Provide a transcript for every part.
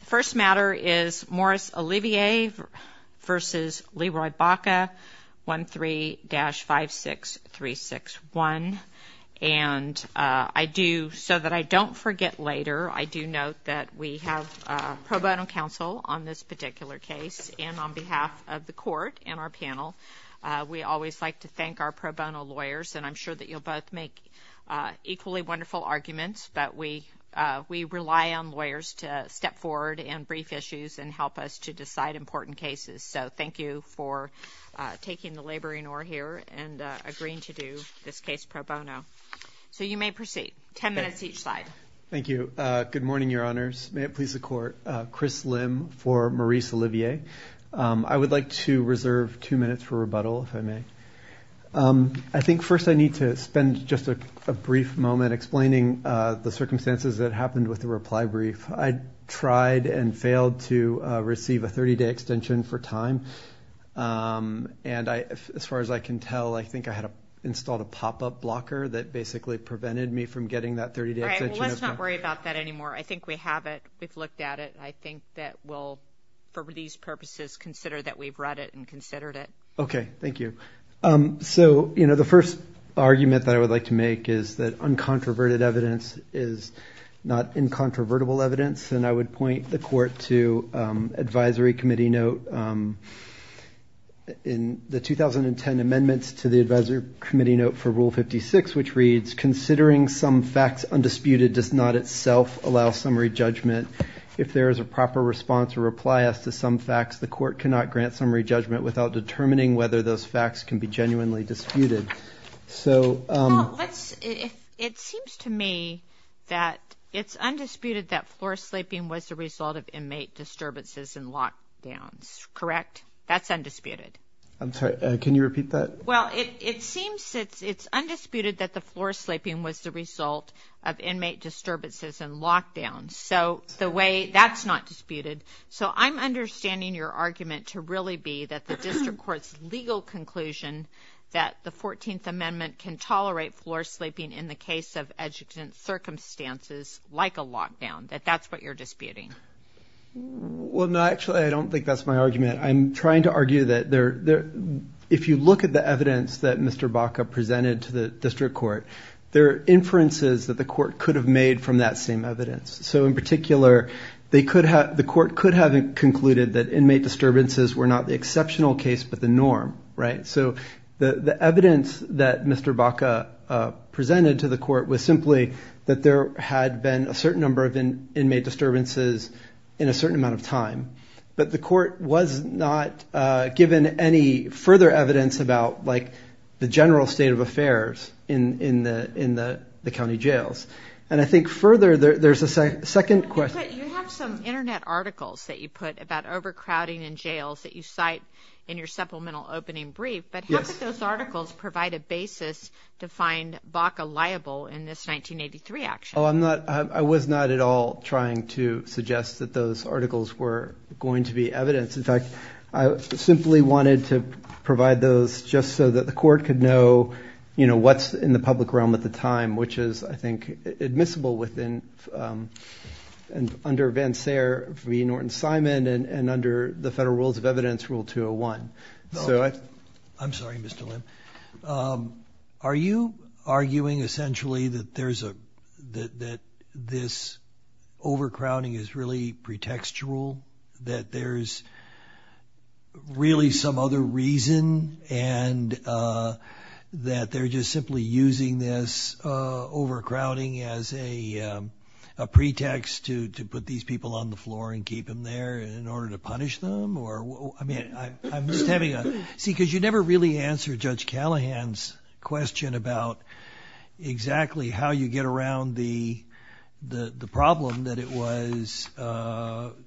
The first matter is Morris Olivier v. Leroy Baca 13-56361 and I do so that I don't forget later I do note that we have pro bono counsel on this particular case and on behalf of the court and our panel we always like to thank our pro bono lawyers and I'm sure that you'll both make equally wonderful arguments but we we rely on lawyers to step forward and brief issues and help us to decide important cases so thank you for taking the laboring or here and agreeing to do this case pro bono so you may proceed ten minutes each side thank you good morning your honors may it please the court Chris Lim for Maurice Olivier I would like to reserve two minutes for rebuttal if I may I think first I need to spend just a brief moment explaining the circumstances that happened with the reply brief I tried and failed to receive a 30-day extension for time and I as far as I can tell I think I had a installed a pop-up blocker that basically prevented me from getting that 30 days let's not worry about that anymore I think we have it we've looked at it I think that will for these purposes consider that we've read it and you so you know the first argument that I would like to make is that uncontroverted evidence is not incontrovertible evidence and I would point the court to Advisory Committee note in the 2010 amendments to the Advisory Committee note for rule 56 which reads considering some facts undisputed does not itself allow summary judgment if there is a proper response or reply us to some facts the court cannot grant summary judgment without determining whether those facts can be genuinely disputed so it seems to me that it's undisputed that floor-sleeping was the result of inmate disturbances and lockdowns correct that's undisputed I'm sorry can you repeat that well it seems that it's undisputed that the floor-sleeping was the result of inmate disturbances and lockdowns so the way that's not disputed so I'm understanding your argument to really be that the district court's legal conclusion that the 14th amendment can tolerate floor-sleeping in the case of educant circumstances like a lockdown that that's what you're disputing well no actually I don't think that's my argument I'm trying to argue that there there if you look at the evidence that mr. Baca presented to the district court there are inferences that the court could have made from that same evidence so in particular they could have the court could have concluded that inmate disturbances were not the exceptional case but the norm right so the the evidence that mr. Baca presented to the court was simply that there had been a certain number of inmate disturbances in a certain amount of time but the court was not given any further evidence about like the general state of affairs in in the county jails and I think further there's a second question you have some internet articles that you put about overcrowding in jails that you cite in your supplemental opening brief but yes those articles provide a basis to find Baca liable in this 1983 action oh I'm not I was not at all trying to suggest that those articles were going to be evidence in fact I simply wanted to provide those just so that the court could know you know what's in the public realm at the time which is I think admissible within and under events there for me Norton Simon and and under the federal rules of evidence rule 201 so I I'm sorry mr. Lim are you arguing essentially that there's a that that this overcrowding is really pretextual that there's really some other reason and that they're just simply using this overcrowding as a pretext to to put these people on the floor and keep them there in order to punish them or I mean I'm just having a see because you never really answer judge Callahan's question about exactly how you get around the the the problem that it was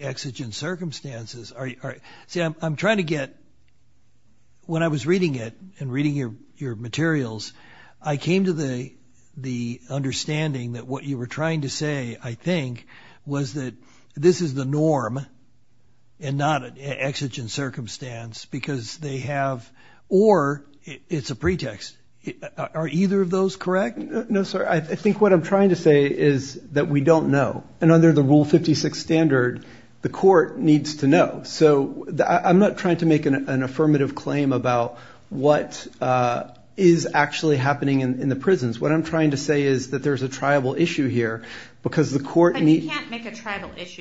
exigent circumstances are you see I'm trying to get when I was reading it and reading your your materials I came to the the understanding that what you were trying to say I think was that this is the norm and not an exigent circumstance because they have or it's a pretext are either of those correct no sir I think what I'm trying to say is that we don't know and under the rule 56 standard the court needs to know so I'm not trying to make an affirmative claim about what is actually happening in the prisons what I'm trying to say is that there's a tribal issue here because the court need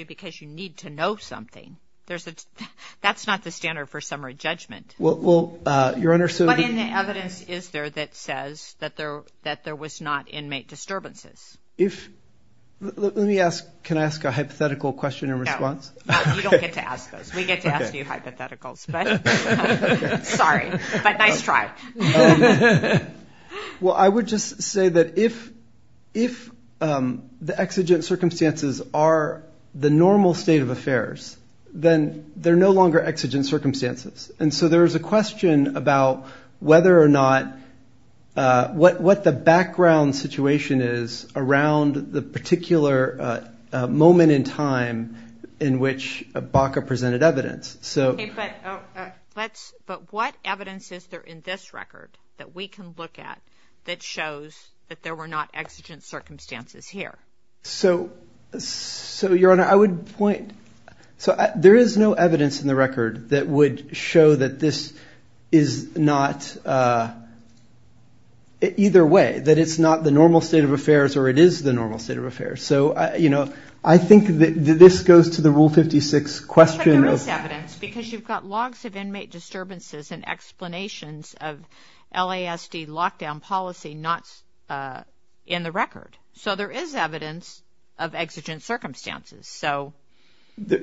because you need to know something there's a that's not the standard for summary judgment well well your honor so the evidence is there that says that there that there was not inmate if let me ask can I ask a hypothetical question and response well I would just say that if if the exigent circumstances are the normal state of affairs then they're no longer exigent circumstances and so there is a question about whether or not what what the background situation is around the particular moment in time in which a Baca presented evidence so let's but what evidence is there in this record that we can look at that shows that there were not exigent circumstances here so so your honor I would point so there is no evidence in the record that would show that this is not either way that it's not the normal state of affairs or it is the normal state of affairs so you know I think that this goes to the rule 56 question because you've got logs of inmate disturbances and explanations of LASD lockdown policy not in the record so there is evidence of exigent circumstances so that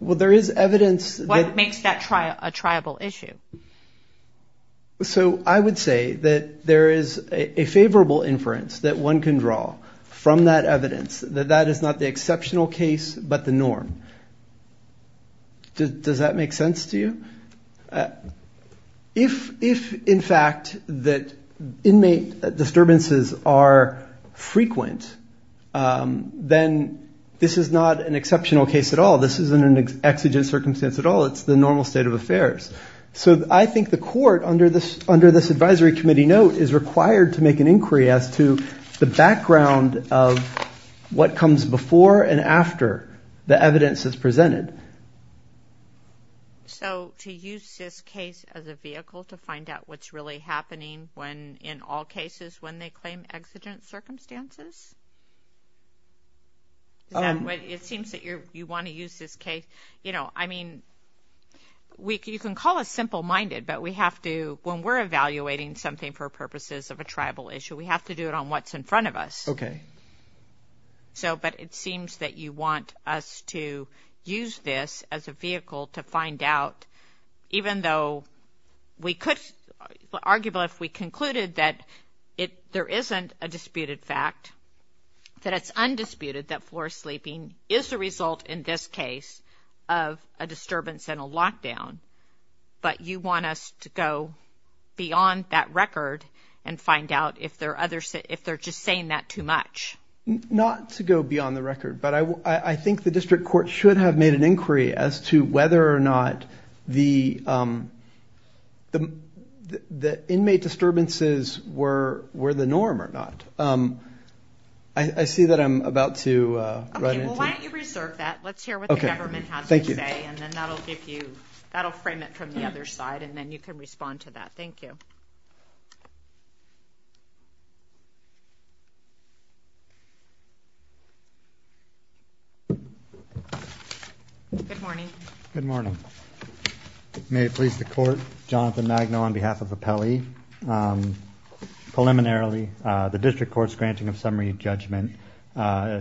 well there is evidence that makes that try a tribal issue so I would say that there is a favorable inference that one can draw from that evidence that that is not the exceptional case but the norm does that make sense to you if if in fact that then this is not an exceptional case at all this isn't an exigent circumstance at all it's the normal state of affairs so I think the court under this under this Advisory Committee note is required to make an inquiry as to the background of what comes before and after the evidence is presented so to use this case as a vehicle to find out what's really happening when in all cases when they claim exigent circumstances it seems that you're you want to use this case you know I mean we can call a simple-minded but we have to when we're evaluating something for purposes of a tribal issue we have to do it on what's in front of us okay so but it seems that you want us to use this as a vehicle to there isn't a disputed fact that it's undisputed that floor sleeping is the result in this case of a disturbance in a lockdown but you want us to go beyond that record and find out if there are others that if they're just saying that too much not to go beyond the record but I think the district court should have made an inquiry as to whether or not the the inmate disturbances were were the norm or not I see that I'm about to reserve that let's hear what the government has to say and then that'll give you that'll frame it from the other side and then you can respond to that thank you good morning good morning may it please the court Jonathan Magno on behalf of a Peli preliminarily the district courts granting of summary judgment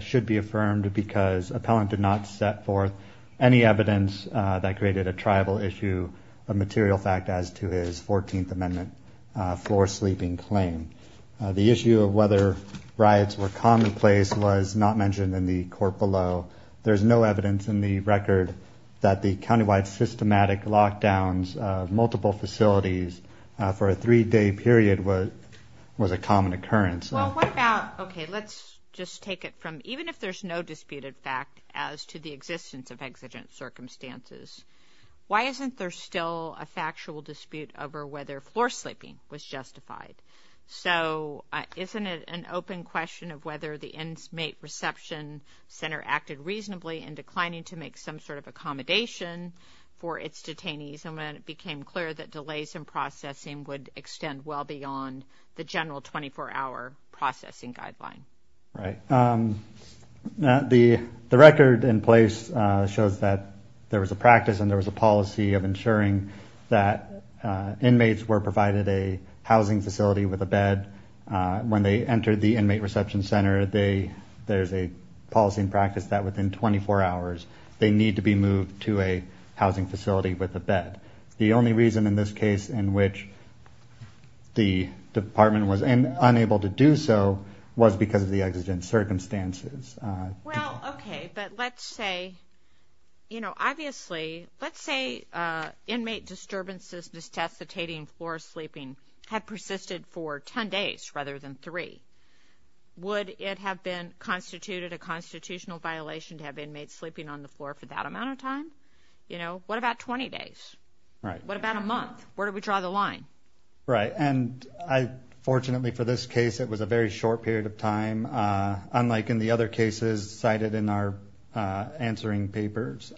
should be affirmed because appellant did not set forth any evidence that created a tribal issue a material fact as to his 14th amendment floor sleeping claim the issue of whether riots were commonplace was not mentioned in the court below there's no evidence in the record that the facilities for a three-day period was was a common occurrence okay let's just take it from even if there's no disputed fact as to the existence of exigent circumstances why isn't there still a factual dispute over whether floor sleeping was justified so isn't it an open question of whether the inmate reception center acted reasonably in declining to make some sort of delays in processing would extend well beyond the general 24-hour processing guideline right now the the record in place shows that there was a practice and there was a policy of ensuring that inmates were provided a housing facility with a bed when they entered the inmate reception center they there's a policy and practice that within 24 hours they need to be moved to a housing facility with a bed the only reason in this case in which the department was unable to do so was because of the exigent circumstances okay but let's say you know obviously let's say inmate disturbances test the tating floor sleeping had persisted for 10 days rather than three would it have been constituted a constitutional violation to have inmate sleeping on the floor for that amount of time you know what about 20 days right what about a month where do we draw the line right and I fortunately for this case it was a very short period of time unlike in the other cases cited in our answering papers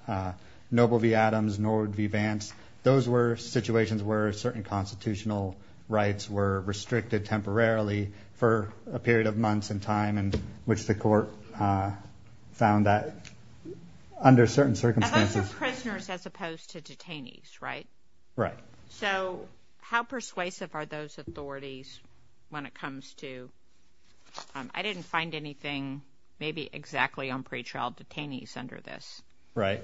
noble v Adams Nord v Vance those were situations where certain constitutional rights were restricted temporarily for a period of months in time and which the found that under certain circumstances prisoners as opposed to detainees right right so how persuasive are those authorities when it comes to I didn't find anything maybe exactly on pretrial detainees under this right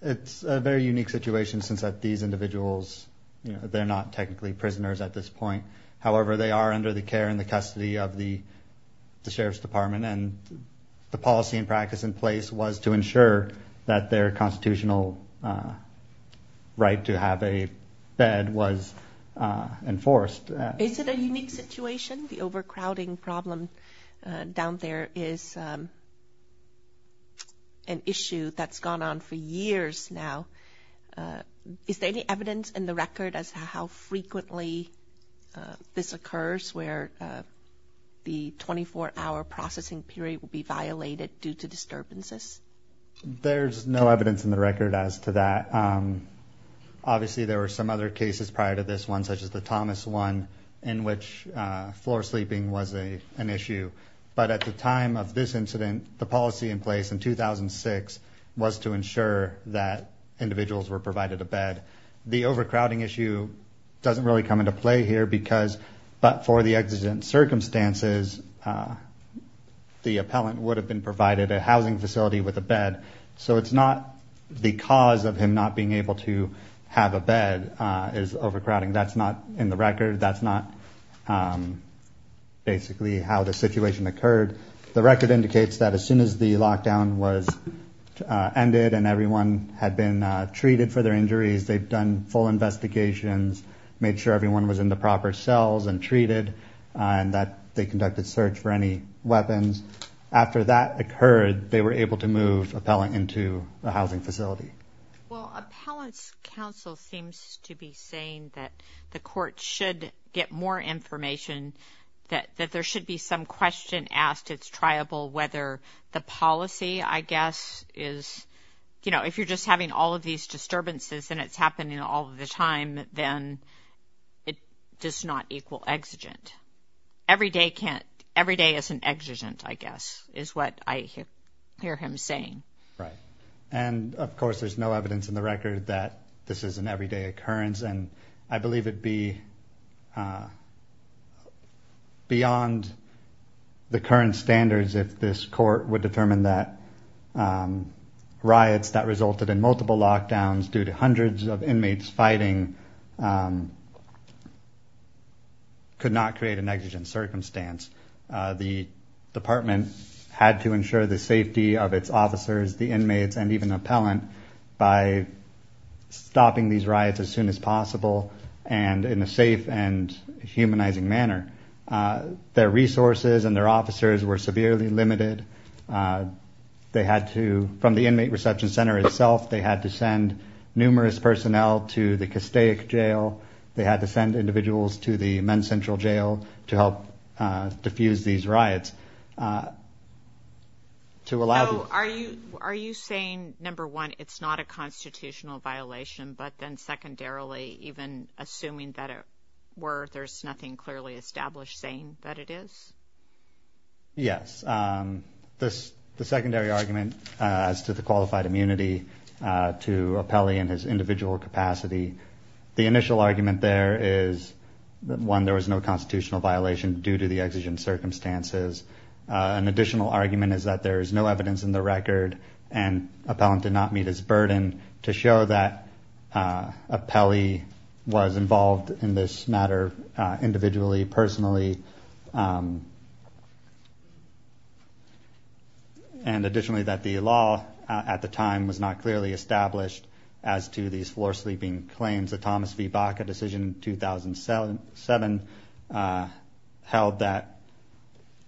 it's a very unique situation since that these individuals you know they're not technically prisoners at this point however they are under the care and the policy and practice in place was to ensure that their constitutional right to have a bed was enforced is it a unique situation the overcrowding problem down there is an issue that's gone on for years now is there any evidence in the record as how frequently this occurs where the 24-hour processing period will be violated due to disturbances there's no evidence in the record as to that obviously there were some other cases prior to this one such as the Thomas one in which floor sleeping was a an issue but at the time of this incident the policy in place in 2006 was to ensure that individuals were provided a bed the overcrowding issue doesn't really come into play here because but for the exigent circumstances the appellant would have been provided a housing facility with a bed so it's not the cause of him not being able to have a bed is overcrowding that's not in the record that's not basically how the situation occurred the record indicates that as soon as the lockdown was ended and everyone had been treated for their injuries they've done full investigations made sure everyone was in the proper cells and treated and that they conducted search for any weapons after that occurred they were able to move appellant into the housing facility well appellants counsel seems to be saying that the court should get more information that that there should be some question asked it's triable whether the policy I guess is you know if you're just having all of these disturbances and it's happening all the time then it does not equal exigent every day can't every day as an exigent I guess is what I hear him saying right and of course there's no evidence in the record that this is an everyday occurrence and I believe it be beyond the current standards if this court would determine that riots that resulted in multiple lockdowns due to hundreds of inmates fighting could not create an exigent circumstance the department had to ensure the safety of its officers the inmates and even appellant by stopping these riots as soon as possible and in a safe and humanizing manner their resources and their officers were severely limited they had to from the inmate reception center itself they had to send numerous personnel to the Castaic jail they had to send individuals to the men central jail to help diffuse these riots to allow are you are you saying number one it's not a constitutional violation but then even assuming that it were there's nothing clearly established saying that it is yes this the secondary argument as to the qualified immunity to a Pele in his individual capacity the initial argument there is that one there was no constitutional violation due to the exigent circumstances an additional argument is that there is no evidence in the record and appellant did not meet his burden to show that a Pele was involved in this matter individually personally and additionally that the law at the time was not clearly established as to these floor sleeping claims that Thomas V Baca decision 2007 held that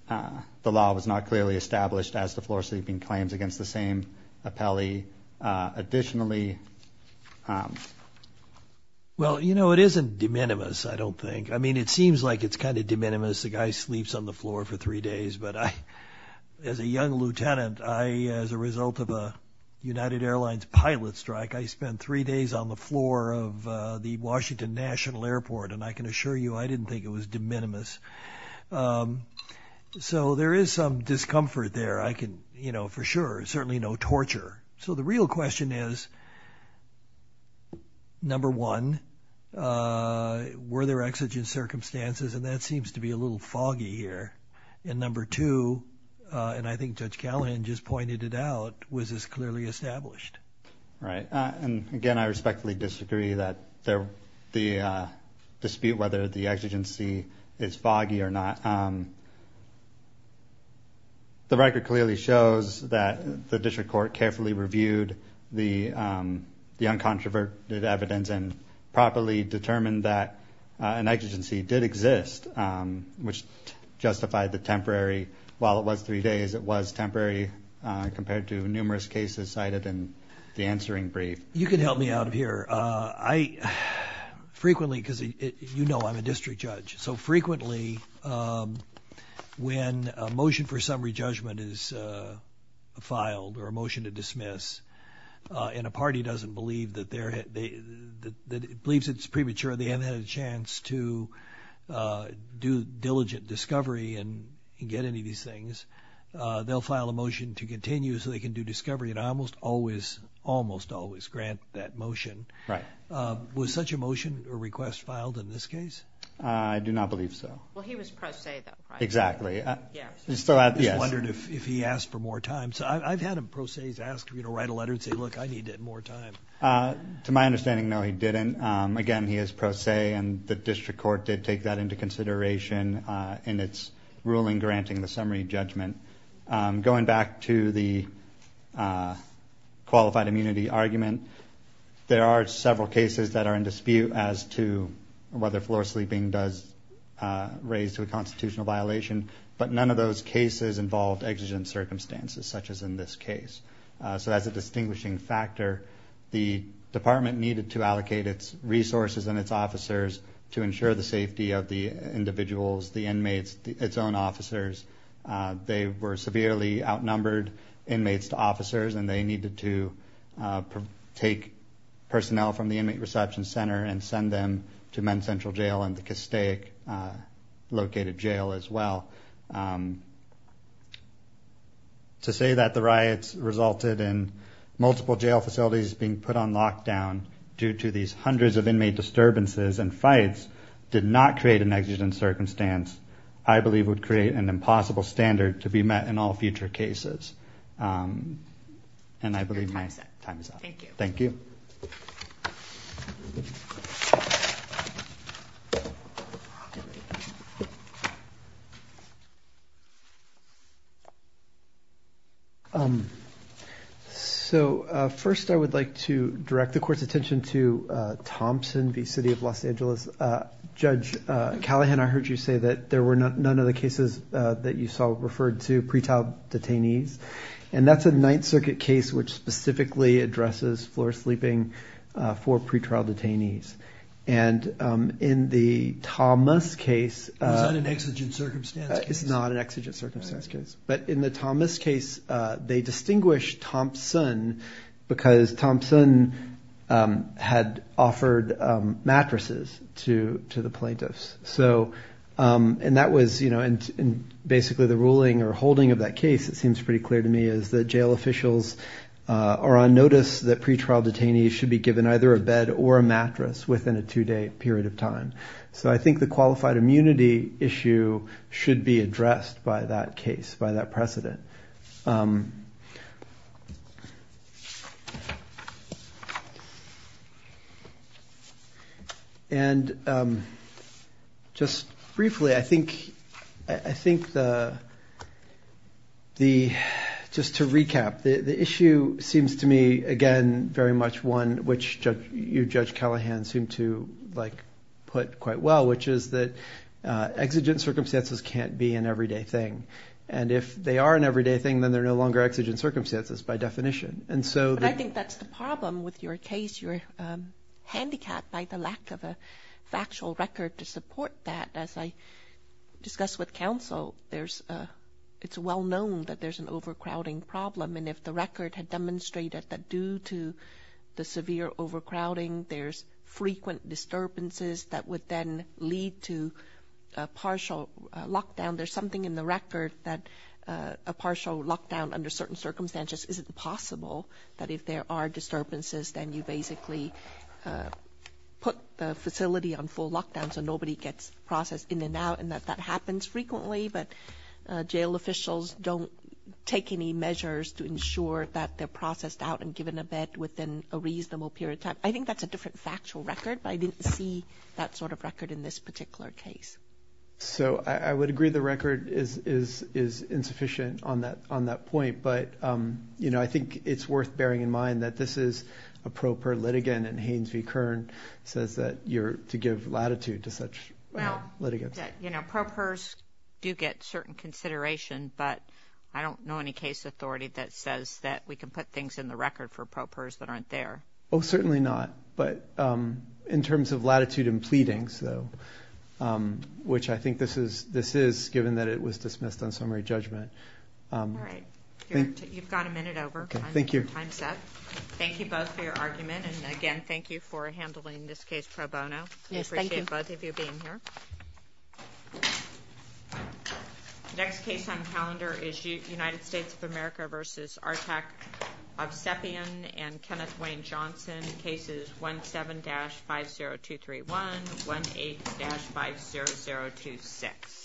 the law was not clearly established as the floor sleeping claims against the same a Pele additionally well you know it isn't de minimis I don't think I mean it seems like it's kind of de minimis the guy sleeps on the floor for three days but I as a young lieutenant I as a result of a United Airlines pilot strike I spent three days on the floor of the Washington National Airport and I can assure you I didn't think it was de minimis so there is some discomfort there I can you know for sure certainly no torture so the real question is number one were there exigent circumstances and that seems to be a little foggy here and number two and I think judge Callahan just pointed it out was this clearly established right and again I respectfully disagree that there the dispute whether the exigency is foggy or not the record clearly shows that the district court carefully reviewed the the uncontroverted evidence and properly determined that an exigency did exist which justified the temporary while it was three days it was temporary compared to numerous cases cited in the frequently because you know I'm a district judge so frequently when a motion for summary judgment is filed or a motion to dismiss in a party doesn't believe that they're that it believes it's premature they haven't had a chance to do diligent discovery and get any of these things they'll file a motion to continue so they can do discovery and I almost always almost always grant that was such a motion or request filed in this case I do not believe so well he was pro se though exactly yeah so I wondered if he asked for more time so I've had a process ask you to write a letter and say look I need more time to my understanding no he didn't again he is pro se and the district court did take that into consideration in its ruling granting the summary judgment going back to the qualified immunity argument there are several cases that are in dispute as to whether floor-sleeping does raise to a constitutional violation but none of those cases involved exigent circumstances such as in this case so as a distinguishing factor the department needed to allocate its resources and its officers to ensure the safety of the individuals the inmates its own officers they were severely outnumbered inmates to officers and they needed to take personnel from the inmate reception center and send them to men central jail and the Castaic located jail as well to say that the riots resulted in multiple jail facilities being put on lockdown due to these hundreds of inmate disturbances and fights did not create an exigent circumstance I believe would create an impossible standard to be met in all future cases and I believe my time is up thank you so first I would like to direct the court's attention to Thompson v. City of Los Angeles judge Callahan I heard you say that there were none of the cases that you saw referred to pretrial detainees and that's a Ninth Circuit case which specifically addresses floor-sleeping for pretrial detainees and in the Thomas case it's not an exigent circumstance case but in the Thomas case they distinguish Thompson because Thompson had offered mattresses to to plaintiffs so and that was you know and basically the ruling or holding of that case it seems pretty clear to me is that jail officials are on notice that pretrial detainees should be given either a bed or a mattress within a two-day period of time so I think the qualified immunity issue should be just briefly I think I think the the just to recap the the issue seems to me again very much one which judge you judge Callahan seemed to like put quite well which is that exigent circumstances can't be an everyday thing and if they are an everyday thing then they're no longer exigent circumstances by definition and so I think that's the problem with your case you're handicapped by the lack of a factual record to support that as I discussed with counsel there's a it's well known that there's an overcrowding problem and if the record had demonstrated that due to the severe overcrowding there's frequent disturbances that would then lead to a partial lockdown there's something in the record that a partial lockdown under certain circumstances isn't possible that if there are disturbances then you basically put the facility on full lockdown so nobody gets processed in and out and that that happens frequently but jail officials don't take any measures to ensure that they're processed out and given a bed within a reasonable period of time I think that's a different factual record but I didn't see that sort of record in this particular case so I would agree the record is is is insufficient on that on that point but you know I think it's worth bearing in mind that this is a proper litigant and Haynes v Kern says that you're to give latitude to such litigants you know propers do get certain consideration but I don't know any case authority that says that we can put things in the record for propers that aren't there oh certainly not but in terms of latitude and pleading so which I think this is given that it was dismissed on summary judgment you've got a minute over thank you time's up thank you both for your argument and again thank you for handling this case pro bono thank you both of you being here next case on calendar issue United States of America versus our tech of sepian and Kenneth Wayne Johnson cases 1 7 dash 5 0 2 3 1 8 5 0 0 2 6